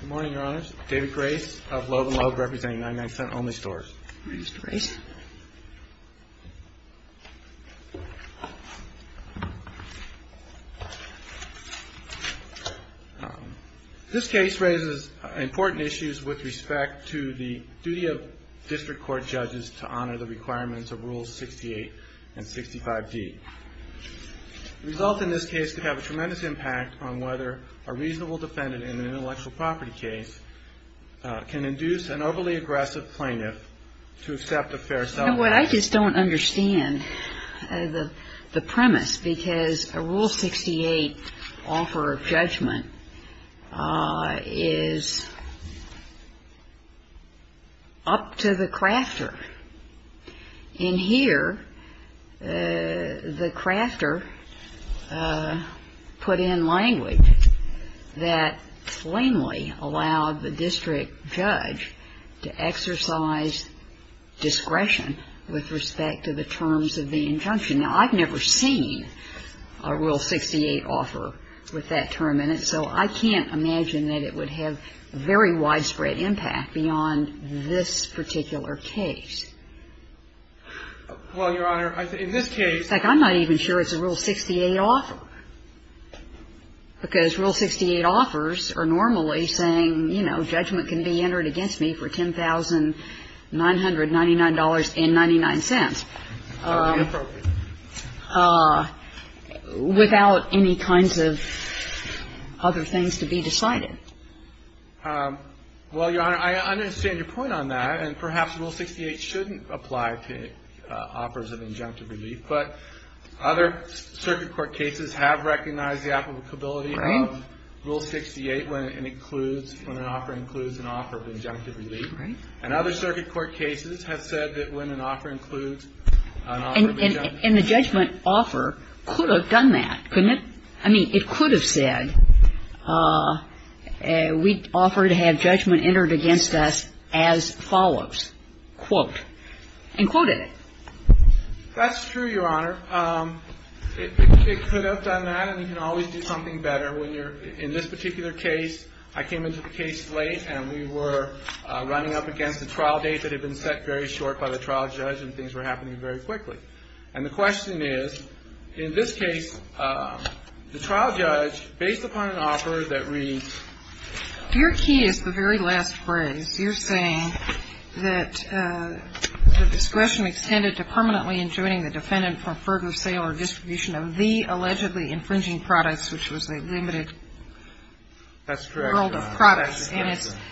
Good morning, Your Honors. David Grace of Loeb & Loeb representing 99 Cent Only Stores. This case raises important issues with respect to the duty of district court judges to honor the requirements of Rules 68 and 65D. The result in this case could have a tremendous impact on whether a reasonable defendant in an intellectual property case can induce an overly aggressive plaintiff to accept a fair settlement. You know what, I just don't understand the premise, because a Rule 68 offer of judgment is up to the crafter. In here, the crafter put in language that plainly allowed the district judge to exercise discretion with respect to the terms of the injunction. Now, I've never seen a Rule 68 offer with that term in it, so I can't imagine that it would have a very widespread impact beyond this particular case. Well, Your Honor, in this case... In fact, I'm not even sure it's a Rule 68 offer, because Rule 68 offers are normally saying, you know, judgment can be entered against me for $10,999.99, without any kinds of other things to be decided. Well, Your Honor, I understand your point on that, and perhaps Rule 68 shouldn't apply to offers of injunctive relief. But other circuit court cases have recognized the applicability of Rule 68 when it includes, when an offer includes an offer of injunctive relief. And other circuit court cases have said that when an offer includes an offer of injunctive relief... And the judgment offer could have done that, couldn't it? I mean, it could have said, we offer to have judgment entered against us as follows, quote, and quoted it. That's true, Your Honor. It could have done that, and you can always do something better when you're, in this particular case, I came into the case late, and we were running up against a trial date that had been set very short by the trial judge, and things were happening very quickly. And the question is, in this case, the trial judge, based upon an offer that reads... Your key is the very last phrase. You're saying that the discretion extended to permanently enjoining the defendant from further sale or distribution of the allegedly infringing products, which was a limited... That's correct, Your Honor. That's correct, Your Honor. That's correct,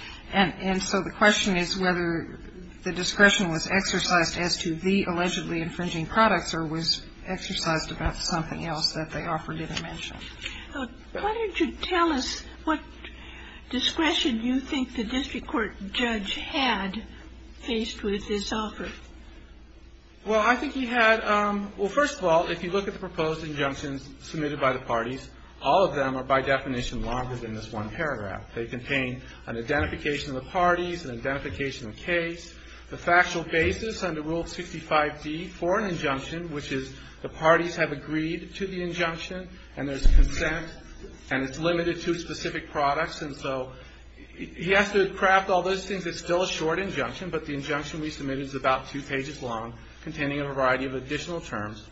Your Honor. That's correct, Your Honor. Well, I think he had... Well, first of all, if you look at the proposed injunctions submitted by the parties, all of them are by definition longer than this one paragraph. They contain an identification of the parties, an identification of the case, the factual basis under Rule 65d for an injunction, which is the parties have agreed to the injunction, and there's consent, and it's limited to specific products, and so he has to craft all those things. It's still a short injunction, but the injunction we submitted is about two pages long, containing a variety of additional terms,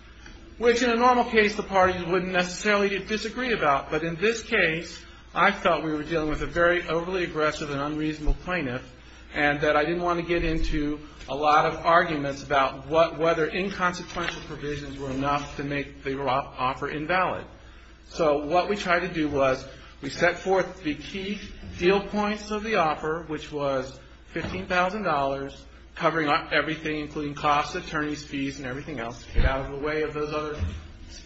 which in a normal case, the parties wouldn't necessarily disagree about, but in this case, I felt we were dealing with a very overly aggressive and unreasonable plaintiff, and that I didn't want to get into a lot of arguments about whether inconsequential provisions were enough to make the offer invalid. So what we tried to do was we set forth the key deal points of the offer, which was $15,000, covering everything, including costs, attorneys' fees, and everything else to get out of the way of those other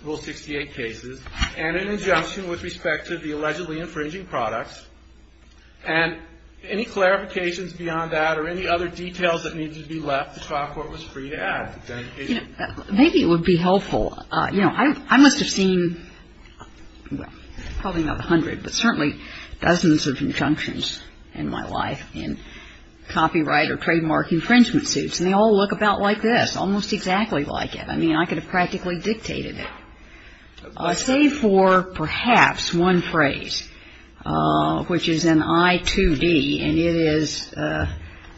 Rule 68 cases, and an injunction with respect to the allegedly infringing products, and any clarifications beyond that or any other details that needed to be left, the trial court was free to add. Kagan. Maybe it would be helpful. You know, I must have seen, well, probably not a hundred, but certainly dozens of injunctions in my life in copyright or trademark infringement suits, and they all look about like this, almost exactly like it. I mean, I could have practically dictated it. Say for perhaps one phrase, which is in I-2D, and it is,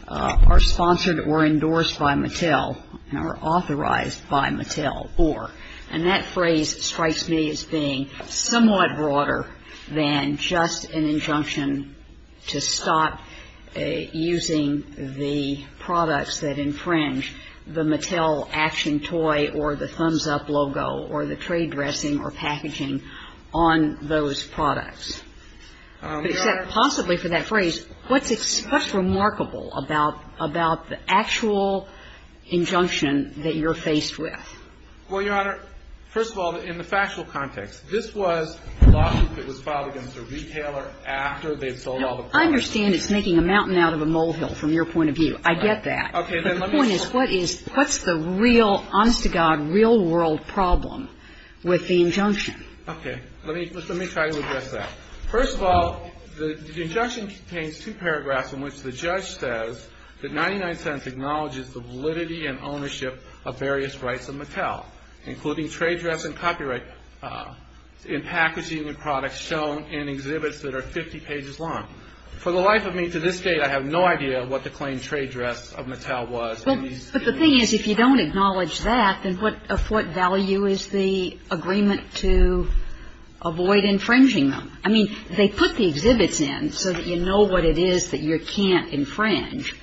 are sponsored or endorsed by Mattel, or authorized by Mattel, or, and that phrase strikes me as being somewhat broader than just an injunction to stop using the products that infringe the Mattel action toy or the thumbs-up logo or the trade dressing or packaging on those products. Except possibly for that phrase, what's remarkable about the actual injunction that you're faced with? Well, Your Honor, first of all, in the factual context, this was a lawsuit that was filed against a retailer after they had sold all the products. I understand it's making a mountain out of a molehill from your point of view. I get that. Okay. But the point is, what is, what's the real, honest to God, real-world problem with the injunction? Okay. Let me try to address that. First of all, the injunction contains two paragraphs in which the judge says that acknowledges the validity and ownership of various rights of Mattel, including trade dress and copyright in packaging the products shown in exhibits that are 50 pages long. For the life of me to this day, I have no idea what the claim trade dress of Mattel was. But the thing is, if you don't acknowledge that, then what, of what value is the agreement to avoid infringing them? I mean, they put the exhibits in so that you know what it is that you can't infringe.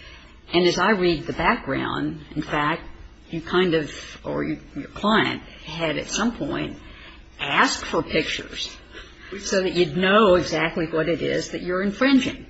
And as I read the background, in fact, you kind of, or your client, had at some point asked for pictures so that you'd know exactly what it is that you're infringing.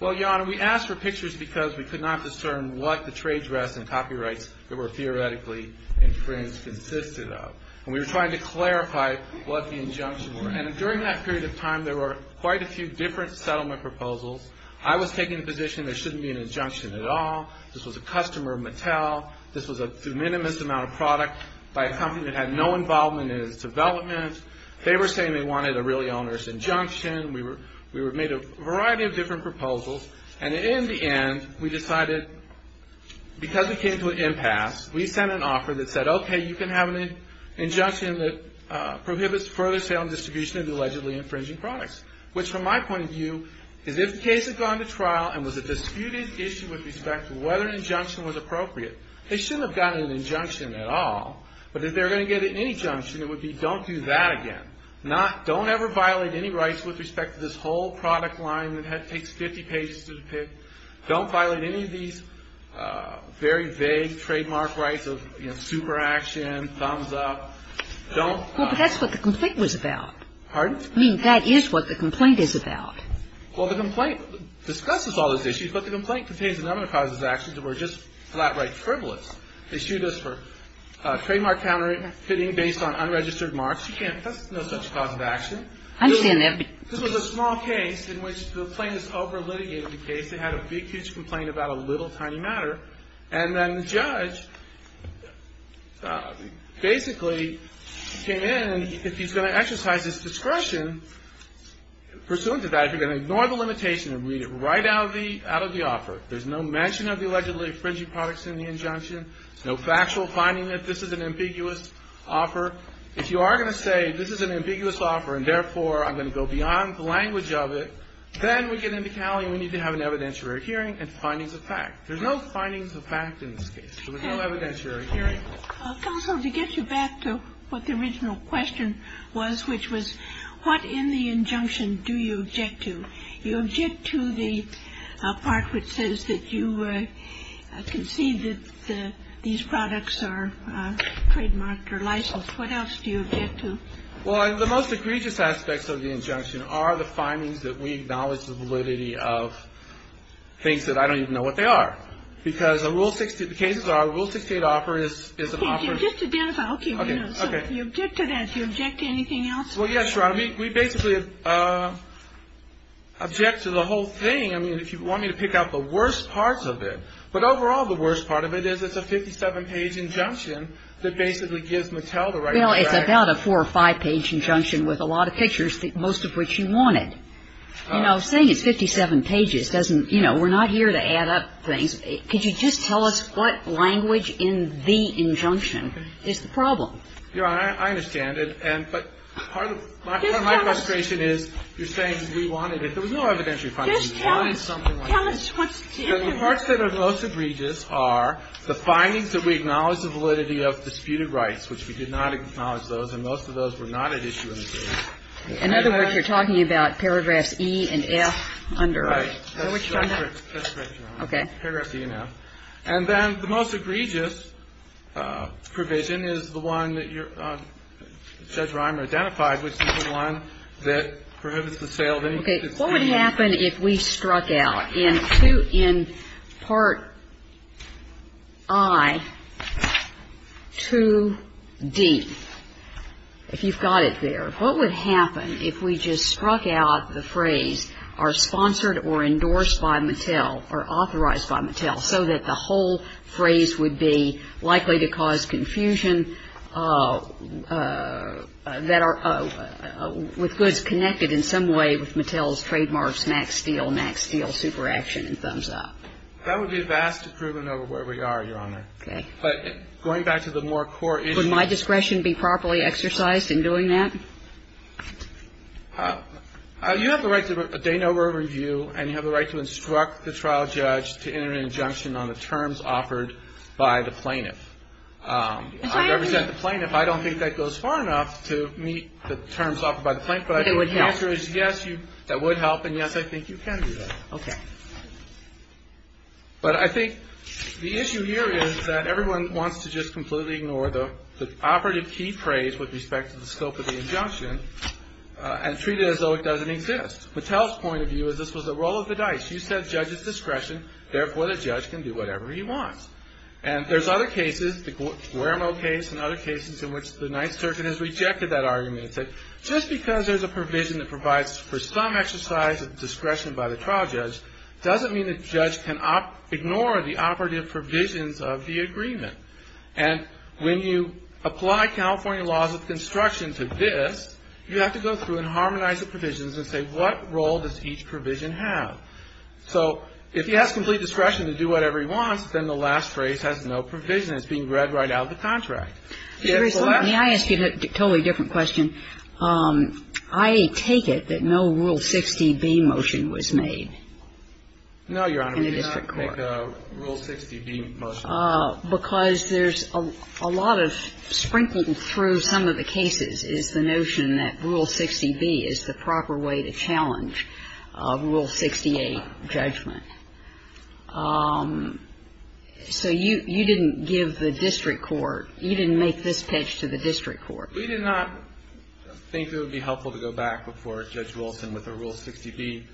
Well, Your Honor, we asked for pictures because we could not discern what the trade dress and copyrights that were theoretically infringed consisted of. And we were trying to clarify what the injunction were. And during that period of time, there were quite a few different settlement proposals. I was taking the position there shouldn't be an injunction at all. This was a customer of Mattel. This was a de minimis amount of product by a company that had no involvement in its development. They were saying they wanted a really onerous injunction. We made a variety of different proposals. And in the end, we decided because it came to an impasse, we sent an offer that said, okay, you can have an injunction that prohibits further sale and distribution of the allegedly infringing products. Which, from my point of view, is if the case had gone to trial and was a disputed issue with respect to whether an injunction was appropriate, they shouldn't have gotten an injunction at all. But if they were going to get any injunction, it would be don't do that again. Not, don't ever violate any rights with respect to this whole product line that takes 50 pages to depict. Don't violate any of these very vague trademark rights of, you know, super action, thumbs up. Don't. Well, but that's what the complaint was about. Pardon? I mean, that is what the complaint is about. Well, the complaint discusses all those issues, but the complaint contains a number of causes of action that were just flat right frivolous. They sued us for trademark counterfeiting based on unregistered marks. You can't, that's no such cause of action. I understand that. This was a small case in which the plaintiffs over-litigated the case. They had a big, huge complaint about a little, tiny matter. And then the judge basically came in and if he's going to exercise his discretion, pursuant to that, if you're going to ignore the limitation and read it right out of the offer, there's no mention of the allegedly infringing products in the injunction, no factual finding that this is an ambiguous offer. If you are going to say this is an ambiguous offer and, therefore, I'm going to go beyond the language of it, then we get into Cali and we need to have an evidentiary hearing and findings of fact. There's no findings of fact in this case. There was no evidentiary hearing. Ginsburg. Counsel, to get you back to what the original question was, which was what in the injunction do you object to? You object to the part which says that you concede that these products are trademarked or licensed. What else do you object to? Well, the most egregious aspects of the injunction are the findings that we acknowledge the validity of things that I don't even know what they are. Because Rule 68, the cases are Rule 68 offer is an offer. Can you just identify? Okay. You object to that. Do you object to anything else? Well, yes, Your Honor. We basically object to the whole thing. I mean, if you want me to pick out the worst parts of it. But, overall, the worst part of it is it's a 57-page injunction that basically gives Mattel the right to track. Well, it's about a four- or five-page injunction with a lot of pictures, most of which you wanted. You know, saying it's 57 pages doesn't, you know, we're not here to add up things. Could you just tell us what language in the injunction is the problem? Your Honor, I understand it. But part of my frustration is you're saying we wanted it. There was no evidentiary finding. We wanted something like this. The parts that are the most egregious are the findings that we acknowledge the validity of disputed rights, which we did not acknowledge those, and most of those were not at issue in the case. In other words, you're talking about paragraphs E and F under it. Right. That's right, Your Honor. Okay. Paragraphs E and F. And then the most egregious provision is the one that Judge Reimer identified, which is the one that prohibits the sale of any disputed property. Okay. What would happen if we struck out in Part I, 2d, if you've got it there? What would happen if we just struck out the phrase, are sponsored or endorsed by Mattel or authorized by Mattel, so that the whole phrase would be likely to cause confusion, that are with goods connected in some way with Mattel's trademarks, max deal, max deal, super action and thumbs up? That would be a vast improvement over where we are, Your Honor. Okay. But going back to the more core issue. Would my discretion be properly exercised in doing that? You have the right to a de novo review, and you have the right to instruct the trial judge to enter an injunction on the terms offered by the plaintiff. I represent the plaintiff. I don't think that goes far enough to meet the terms offered by the plaintiff, but I think the answer is yes, that would help, and yes, I think you can do that. Okay. But I think the issue here is that everyone wants to just completely ignore the operative key phrase with respect to the scope of the injunction and treat it as though it doesn't exist. Mattel's point of view is this was a roll of the dice. You said judge's discretion, therefore the judge can do whatever he wants. And there's other cases, the Guermo case and other cases in which the Ninth Circuit has rejected that argument and said, just because there's a provision that provides for some exercise of discretion by the trial judge, doesn't mean the judge can ignore the operative provisions of the agreement. And when you apply California laws of construction to this, you have to go through and harmonize the provisions and say, what role does each provision have? So if he has complete discretion to do whatever he wants, then the last phrase has no provision. It's being read right out of the contract. Can I ask you a totally different question? I take it that no Rule 60B motion was made. No, Your Honor, we did not make a Rule 60B motion. Because there's a lot of sprinkling through some of the cases is the notion that Rule 60B is the proper way to challenge Rule 68 judgment. So you didn't give the district court, you didn't make this pitch to the district court. We did not think it would be helpful to go back before Judge Wilson with a Rule 60B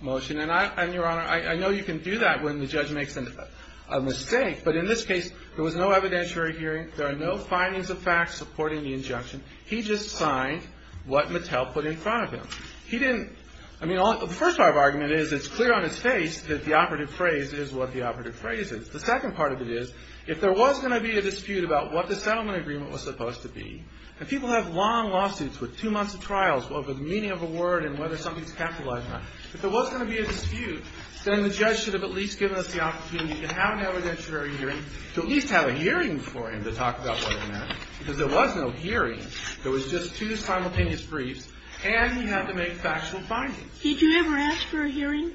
motion. And, Your Honor, I know you can do that when the judge makes a mistake. But in this case, there was no evidentiary hearing. There are no findings of fact supporting the injunction. He just signed what Mattel put in front of him. He didn't – I mean, the first part of the argument is it's clear on his face that the operative phrase is what the operative phrase is. The second part of it is if there was going to be a dispute about what the settlement agreement was supposed to be, and people have long lawsuits with two months of trials over the meaning of a word and whether something's capitalized or not. If there was going to be a dispute, then the judge should have at least given us the opportunity to have an evidentiary hearing, to at least have a hearing for him to talk about what it meant. Because there was no hearing. There was just two simultaneous briefs. And he had to make factual findings. Did you ever ask for a hearing?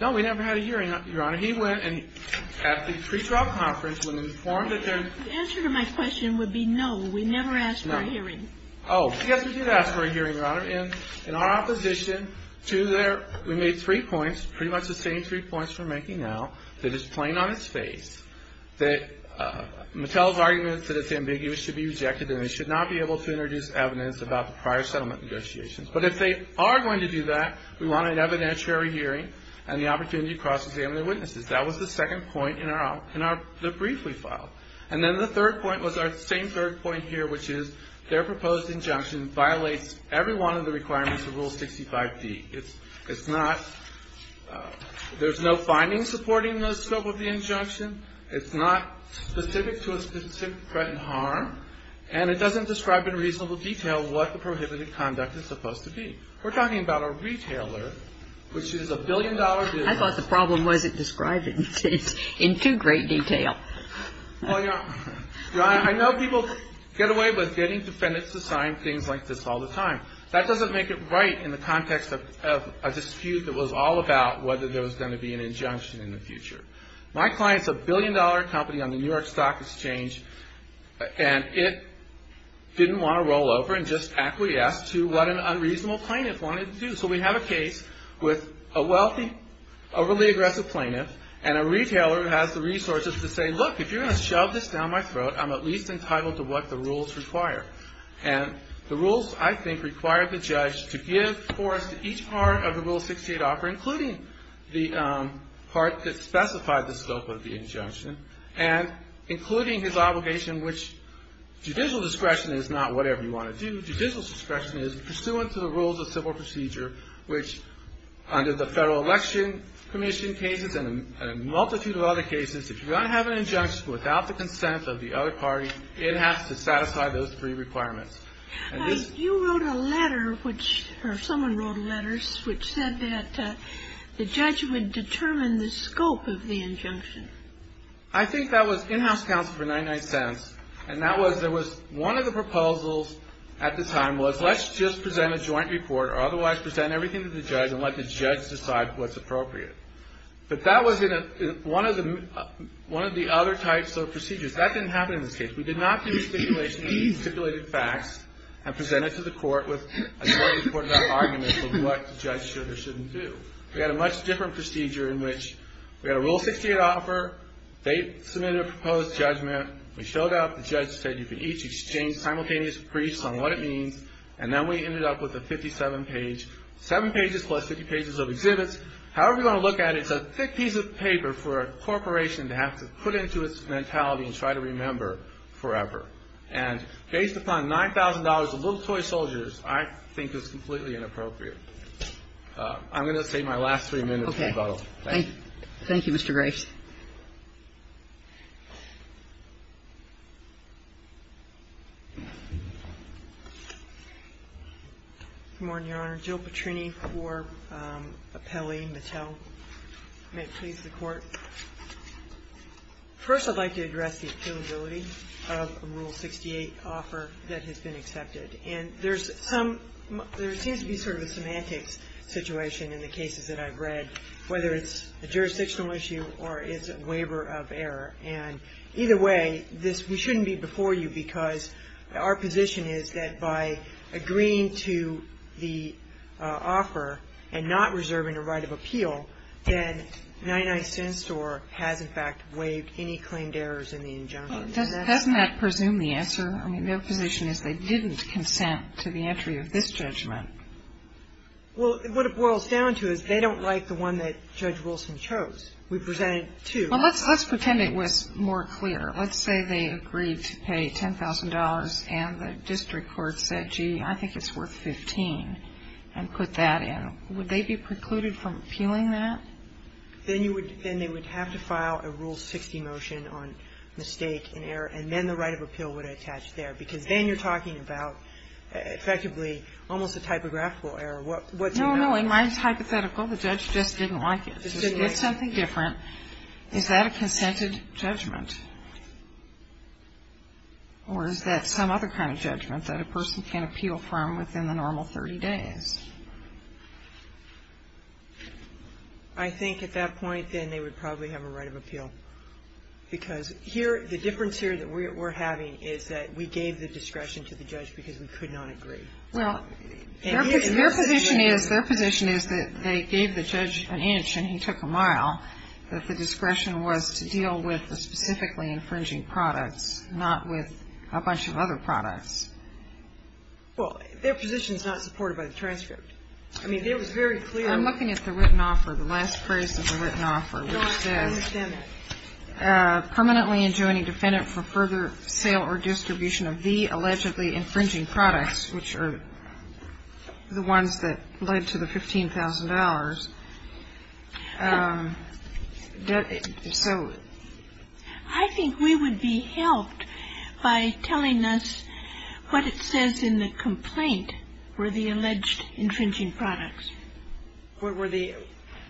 No, we never had a hearing, Your Honor. He went and at the pre-trial conference when informed that there – The answer to my question would be no. We never asked for a hearing. No. Oh. Yes, we did ask for a hearing, Your Honor. In our opposition to their – we made three points, pretty much the same three points we're making now, that it's plain on its face that Mattel's argument that it's ambiguous should be rejected and they should not be able to introduce evidence about the prior settlement negotiations. But if they are going to do that, we want an evidentiary hearing and the opportunity to cross-examine their witnesses. That was the second point in our – in the brief we filed. And then the third point was our same third point here, which is their proposed injunction violates every one of the requirements of Rule 65B. It's not – there's no findings supporting the scope of the injunction. It's not specific to a specific threat and harm. And it doesn't describe in reasonable detail what the prohibited conduct is supposed to be. We're talking about a retailer, which is a billion-dollar business. I thought the problem wasn't described in too great detail. I know people get away with getting defendants to sign things like this all the time. That doesn't make it right in the context of a dispute that was all about whether there was going to be an injunction in the future. My client's a billion-dollar company on the New York Stock Exchange, and it didn't want to roll over and just acquiesce to what an unreasonable plaintiff wanted to do. So we have a case with a wealthy, overly aggressive plaintiff, and a retailer has the resources to say, look, if you're going to shove this down my throat, I'm at least entitled to what the rules require. And the rules, I think, require the judge to give force to each part of the Rule 68 offer, including the part that specified the scope of the injunction, and including his obligation, which judicial discretion is not whatever you want to do. Judicial discretion is pursuant to the rules of civil procedure, which under the other cases, if you're going to have an injunction without the consent of the other party, it has to satisfy those three requirements. You wrote a letter, or someone wrote a letter, which said that the judge would determine the scope of the injunction. I think that was in-house counsel for 99 cents, and that was there was one of the proposals at the time was let's just present a joint report or otherwise present everything to the judge and let the judge decide what's appropriate. But that was in one of the other types of procedures. That didn't happen in this case. We did not do stipulation. We stipulated facts and presented to the court with a joint report about arguments of what the judge should or shouldn't do. We had a much different procedure in which we had a Rule 68 offer. They submitted a proposed judgment. We showed up. The judge said you could each exchange simultaneous briefs on what it means, and then we ended up with a 57-page, seven pages plus 50 pages of exhibits. However you want to look at it, it's a thick piece of paper for a corporation to have to put into its mentality and try to remember forever. And based upon $9,000 of little toy soldiers, I think it's completely inappropriate. I'm going to take my last three minutes to rebuttal. Thank you. Thank you, Mr. Graves. Good morning, Your Honor. Jill Petrini for Appelli, Mattel. May it please the Court. First, I'd like to address the appealability of a Rule 68 offer that has been accepted. And there's some – there seems to be sort of a semantics situation in the cases that I've read, whether it's a jurisdictional issue or it's a waiver of error. And either way, this – we shouldn't be before you because our position is that by agreeing to the offer and not reserving a right of appeal, then 99 Cent Store has, in fact, waived any claimed errors in the injunction. Doesn't that presume the answer? I mean, their position is they didn't consent to the entry of this judgment. Well, what it boils down to is they don't like the one that Judge Wilson chose. We presented two. Well, let's pretend it was more clear. Let's say they agreed to pay $10,000 and the district court said, gee, I think it's worth 15, and put that in. Would they be precluded from appealing that? Then you would – then they would have to file a Rule 60 motion on mistake and error, and then the right of appeal would attach there. Because then you're talking about effectively almost a typographical error. No, no. Mine is hypothetical. The judge just didn't like it. So she did something different. Is that a consented judgment? Or is that some other kind of judgment that a person can appeal from within the normal 30 days? Because here, the difference here that we're having is that we gave the discretion to the judge because we could not agree. Well, their position is that they gave the judge an inch and he took a mile, that the discretion was to deal with the specifically infringing products, not with a bunch of other products. Well, their position is not supported by the transcript. I mean, it was very clear. I'm looking at the written offer, the last phrase of the written offer, which says that the defendant, permanently enjoining defendant for further sale or distribution of the allegedly infringing products, which are the ones that led to the $15,000. So – I think we would be helped by telling us what it says in the complaint were the alleged infringing products. What were the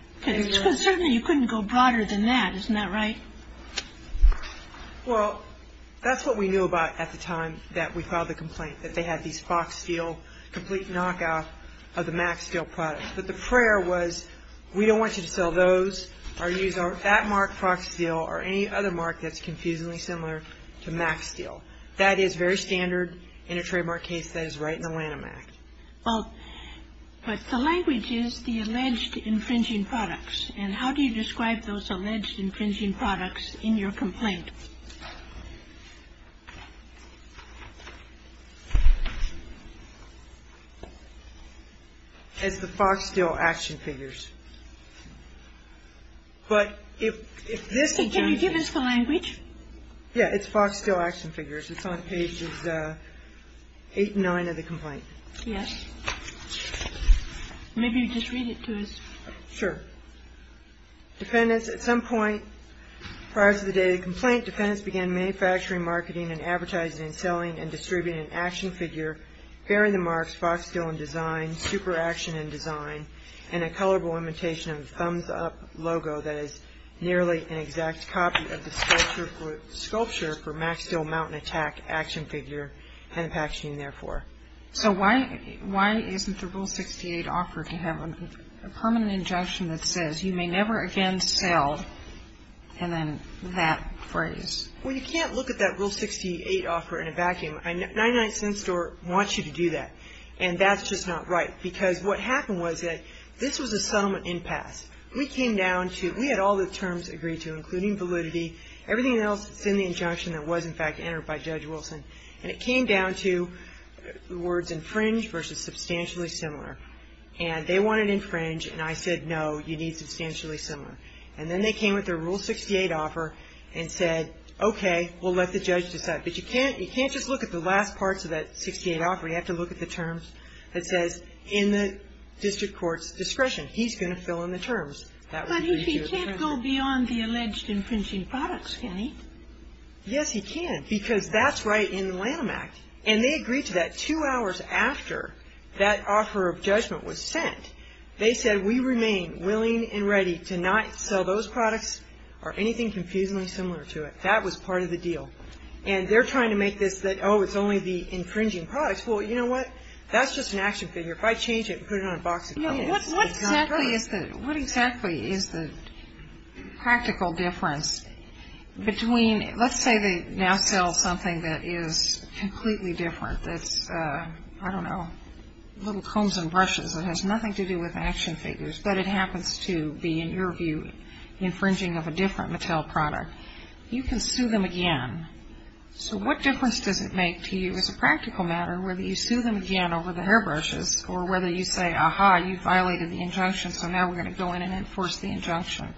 – Because certainly you couldn't go broader than that. Isn't that right? Well, that's what we knew about at the time that we filed the complaint, that they had these Fox Steel complete knockoff of the MAC Steel products. But the prayer was, we don't want you to sell those or use that mark, Fox Steel, or any other mark that's confusingly similar to MAC Steel. That is very standard in a trademark case that is right in the land of MAC. Well, but the language is the alleged infringing products. And how do you describe those alleged infringing products in your complaint? It's the Fox Steel action figures. But if this is the – Can you give us the language? Yeah. It's Fox Steel action figures. It's on pages 8 and 9 of the complaint. Yes. Maybe just read it to us. Sure. Defendants, at some point prior to the day of the complaint, defendants began manufacturing, marketing, and advertising, selling and distributing an action figure bearing the marks Fox Steel in design, super action in design, and a colorable imitation of the Thumbs Up logo that is nearly an exact copy of the sculpture for MAC Steel Mountain Attack action figure and the packaging, therefore. So why isn't the Rule 68 offer to have a permanent injunction that says, you may never again sell, and then that phrase? Well, you can't look at that Rule 68 offer in a vacuum. 99 Cent Store wants you to do that, and that's just not right. Because what happened was that this was a settlement impasse. We came down to – we had all the terms agreed to, including validity. Everything else is in the injunction that was, in fact, entered by Judge Wilson. And it came down to the words infringe versus substantially similar. And they wanted infringe, and I said, no, you need substantially similar. And then they came with their Rule 68 offer and said, okay, we'll let the judge decide. But you can't just look at the last parts of that 68 offer. You have to look at the terms that says, in the district court's discretion, he's going to fill in the terms. But he can't go beyond the alleged infringing products, can he? Yes, he can. Because that's right in the Lanham Act. And they agreed to that two hours after that offer of judgment was sent. They said, we remain willing and ready to not sell those products or anything confusingly similar to it. That was part of the deal. And they're trying to make this that, oh, it's only the infringing products. Well, you know what? That's just an action figure. If I change it and put it on a box, it probably is. What exactly is the practical difference between, let's say they now sell something that is completely different, that's, I don't know, little combs and brushes that has nothing to do with action figures, but it happens to be, in your view, infringing of a different Mattel product. You can sue them again. So what difference does it make to you as a practical matter whether you sue them again over the hairbrushes or whether you say, ah-ha, you violated the injunction, so now we're going to go in and enforce the injunction?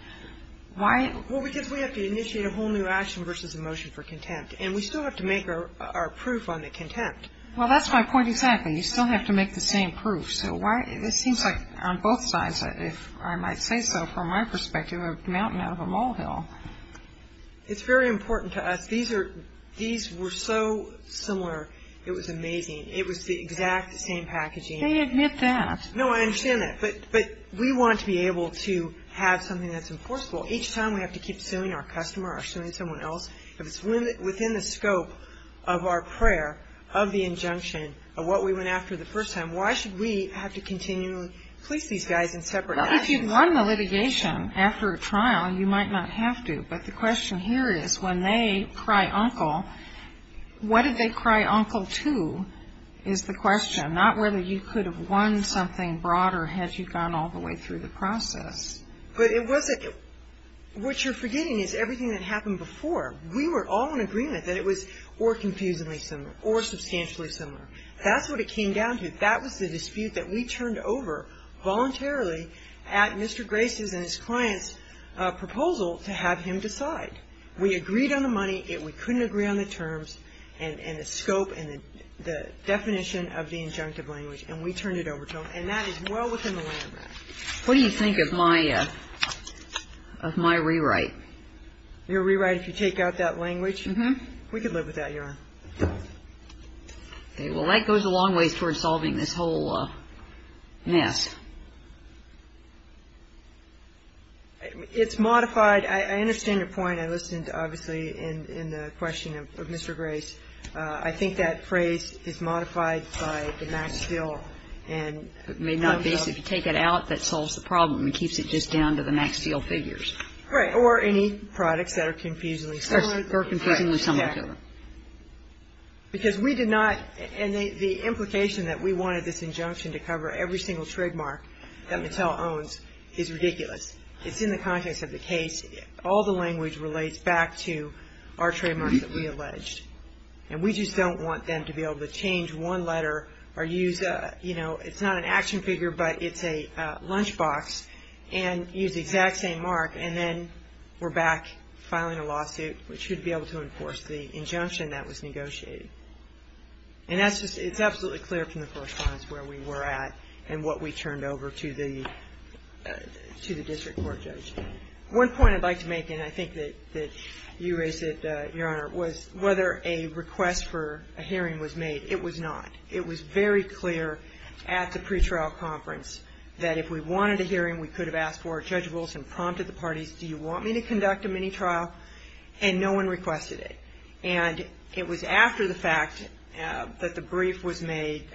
Why? Well, because we have to initiate a whole new action versus a motion for contempt. And we still have to make our proof on the contempt. Well, that's my point exactly. You still have to make the same proof. So why, it seems like on both sides, if I might say so, from my perspective, a mountain out of a molehill. It's very important to us. These were so similar, it was amazing. It was the exact same packaging. They admit that. No, I understand that. But we want to be able to have something that's enforceable. Each time we have to keep suing our customer or suing someone else, if it's within the scope of our prayer of the injunction of what we went after the first time, why should we have to continually place these guys in separate actions? Well, if you've won the litigation after a trial, you might not have to. But the question here is when they cry uncle, what did they cry uncle to is the question, not whether you could have won something broader had you gone all the way through the process. But it wasn't what you're forgetting is everything that happened before. We were all in agreement that it was or confusingly similar or substantially similar. That's what it came down to. That was the dispute that we turned over voluntarily at Mr. Grace's and his client's proposal to have him decide. We agreed on the money. We couldn't agree on the terms and the scope and the definition of the injunctive language. And we turned it over to him. And that is well within the landmark. What do you think of my rewrite? Your rewrite, if you take out that language? Mm-hmm. We could live with that, Your Honor. Okay. Well, that goes a long ways towards solving this whole mess. It's modified. I understand your point. I listened, obviously, in the question of Mr. Grace. I think that phrase is modified by the max deal. It may not be. If you take it out, that solves the problem. It keeps it just down to the max deal figures. Right. Or any products that are confusingly similar. Or confusingly similar. Because we did not, and the implication that we wanted this injunction to cover every single trademark that Mattel owns is ridiculous. It's in the context of the case. All the language relates back to our trademark that we alleged. And we just don't want them to be able to change one letter or use, you know, it's not an action figure, but it's a lunchbox, and use the exact same mark, and then we're back filing a lawsuit, which should be able to enforce the injunction that was negotiated. And it's absolutely clear from the correspondence where we were at and what we turned over to the district court judge. One point I'd like to make, and I think that you raised it, Your Honor, was whether a request for a hearing was made. It was not. It was very clear at the pretrial conference that if we wanted a hearing, we could have asked for it. Judge Wilson prompted the parties, do you want me to conduct a mini-trial? And no one requested it. And it was after the fact that the brief was made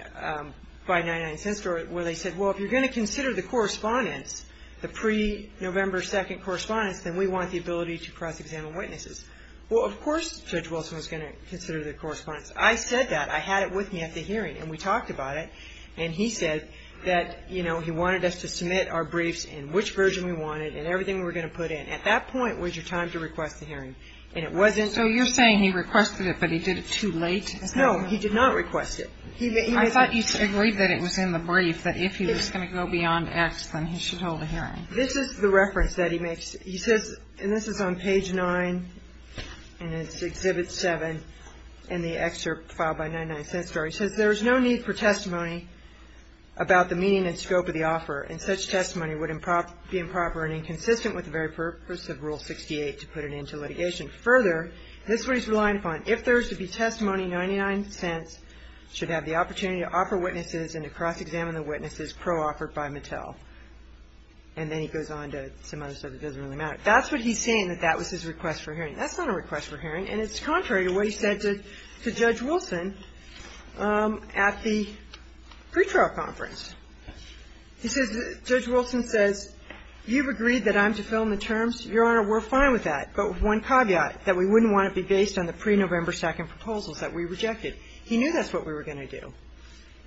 by 99 Cent Store where they said, well, if you're going to consider the correspondence, the pre-November 2nd correspondence, then we want the ability to cross-examine witnesses. Well, of course Judge Wilson was going to consider the correspondence. I said that. I had it with me at the hearing, and we talked about it. And he said that, you know, he wanted us to submit our briefs and which version we wanted and everything we were going to put in. At that point was your time to request a hearing. And it wasn't. So you're saying he requested it, but he did it too late? No, he did not request it. I thought you agreed that it was in the brief that if he was going to go beyond X, then he should hold a hearing. This is the reference that he makes. He says, and this is on page 9, and it's Exhibit 7, in the excerpt filed by 99 Cent Store. He says, There is no need for testimony about the meaning and scope of the offer, and such testimony would be improper and inconsistent with the very purpose of Rule 68 to put it into litigation. Further, this is what he's relying upon. If there is to be testimony, 99 Cent should have the opportunity to offer witnesses and to cross-examine the witnesses pro-offered by Mattel. And then he goes on to some other stuff that doesn't really matter. That's what he's saying, that that was his request for hearing. That's not a request for hearing, and it's contrary to what he said to Judge Wilson at the pretrial conference. He says, Judge Wilson says, you've agreed that I'm to fill in the terms. Your Honor, we're fine with that. But one caveat, that we wouldn't want it to be based on the pre-November 2nd proposals that we rejected. He knew that's what we were going to do.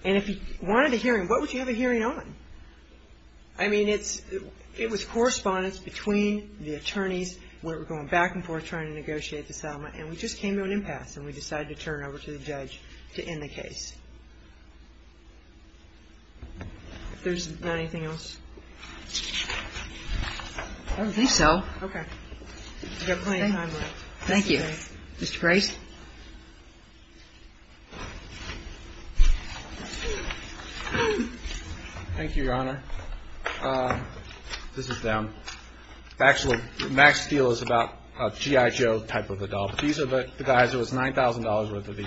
And if he wanted a hearing, what would you have a hearing on? I mean, it was correspondence between the attorneys. We were going back and forth trying to negotiate this element, and we just came to an impasse, and we decided to turn it over to the judge to end the case. If there's not anything else. I don't think so. Okay. You have plenty of time left. Thank you. Mr. Price. Thank you, Your Honor. This is them. Actually, Max Steel is about a GI Joe type of adult. These are the guys. It was $9,000 worth of these.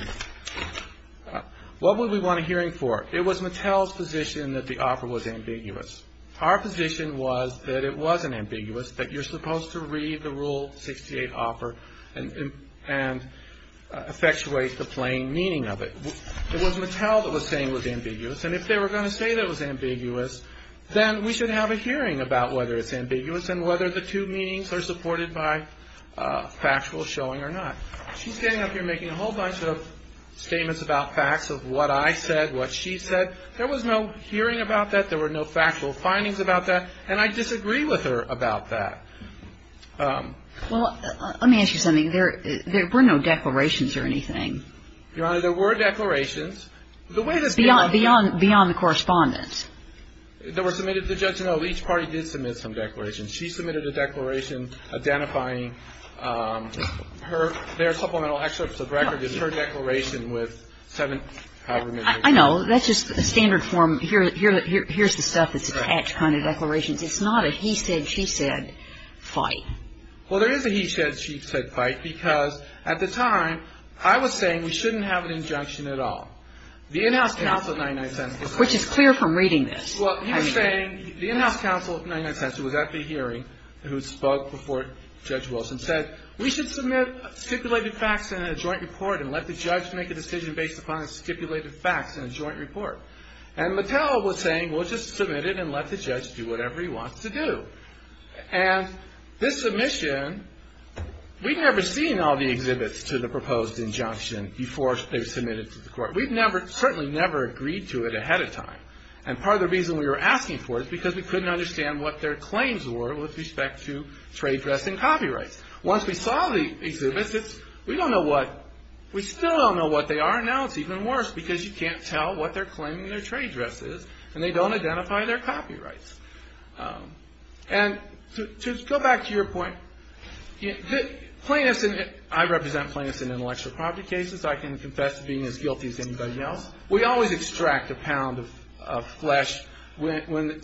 What would we want a hearing for? It was Mattel's position that the offer was ambiguous. Our position was that it wasn't ambiguous, that you're supposed to read the Rule 68 offer and effectuate the plain meaning of it. It was Mattel that was saying it was ambiguous, and if they were going to say that it was ambiguous, then we should have a hearing about whether it's ambiguous and whether the two meanings are supported by factual showing or not. She's getting up here making a whole bunch of statements about facts of what I said, what she said. There was no hearing about that. There were no factual findings about that. And I disagree with her about that. Well, let me ask you something. There were no declarations or anything. Your Honor, there were declarations. Beyond the correspondence. There were submitted to the judge. No, each party did submit some declarations. She submitted a declaration identifying her, their supplemental excerpts of records, her declaration with seven, however many. I know. Well, that's just a standard form. Here's the stuff that's attached, kind of declarations. It's not a he said, she said fight. Well, there is a he said, she said fight because at the time I was saying we shouldn't have an injunction at all. The in-house counsel of 99 Cents was at the hearing. Which is clear from reading this. Well, he was saying the in-house counsel of 99 Cents who was at the hearing who spoke before Judge Wilson said we should submit stipulated facts in a joint report and let the judge make a decision based upon stipulated facts in a joint report. And Mattel was saying we'll just submit it and let the judge do whatever he wants to do. And this submission, we'd never seen all the exhibits to the proposed injunction before they were submitted to the court. We'd certainly never agreed to it ahead of time. And part of the reason we were asking for it is because we couldn't understand what their claims were with respect to trade dress and copyrights. Once we saw the exhibits, we don't know what, we still don't know what they are. And now it's even worse because you can't tell what they're claiming their trade dress is. And they don't identify their copyrights. And to go back to your point, plaintiffs, I represent plaintiffs in intellectual property cases. I can confess to being as guilty as anybody else. We always extract a pound of flesh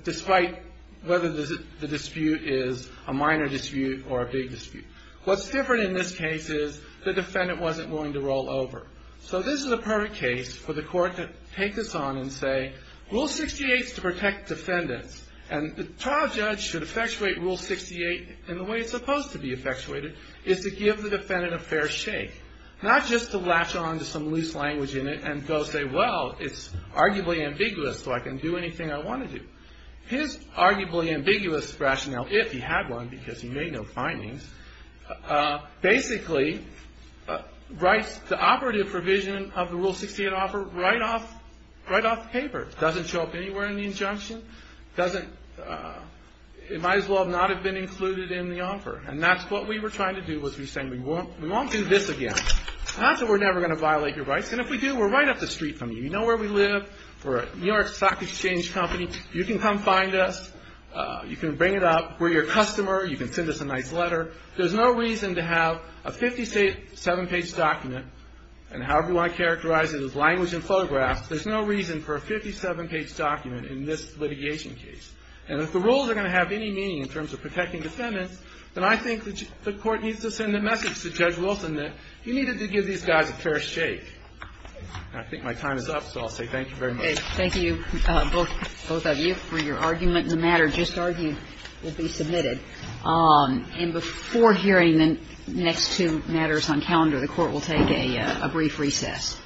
despite whether the dispute is a minor dispute or a big dispute. What's different in this case is the defendant wasn't willing to roll over. So this is a perfect case for the court to take this on and say, Rule 68 is to protect defendants. And the trial judge should effectuate Rule 68 in the way it's supposed to be effectuated, is to give the defendant a fair shake, not just to latch on to some loose language in it and go say, well, it's arguably ambiguous, so I can do anything I want to do. His arguably ambiguous rationale, if he had one because he made no findings, basically writes the operative provision of the Rule 68 offer right off the paper. It doesn't show up anywhere in the injunction. It might as well not have been included in the offer. And that's what we were trying to do was we were saying we won't do this again. That's why we're never going to violate your rights. And if we do, we're right up the street from you. You know where we live. We're a New York Stock Exchange company. You can come find us. You can bring it up. We're your customer. You can send us a nice letter. There's no reason to have a 57-page document, and however you want to characterize it as language and photographs, there's no reason for a 57-page document in this litigation case. And if the rules are going to have any meaning in terms of protecting defendants, then I think the Court needs to send a message to Judge Wilson that you needed to give these guys a fair shake. And I think my time is up, so I'll say thank you very much. Thank you, both of you, for your argument. And the matter just argued will be submitted. And before hearing the next two matters on calendar, the Court will take a brief recess.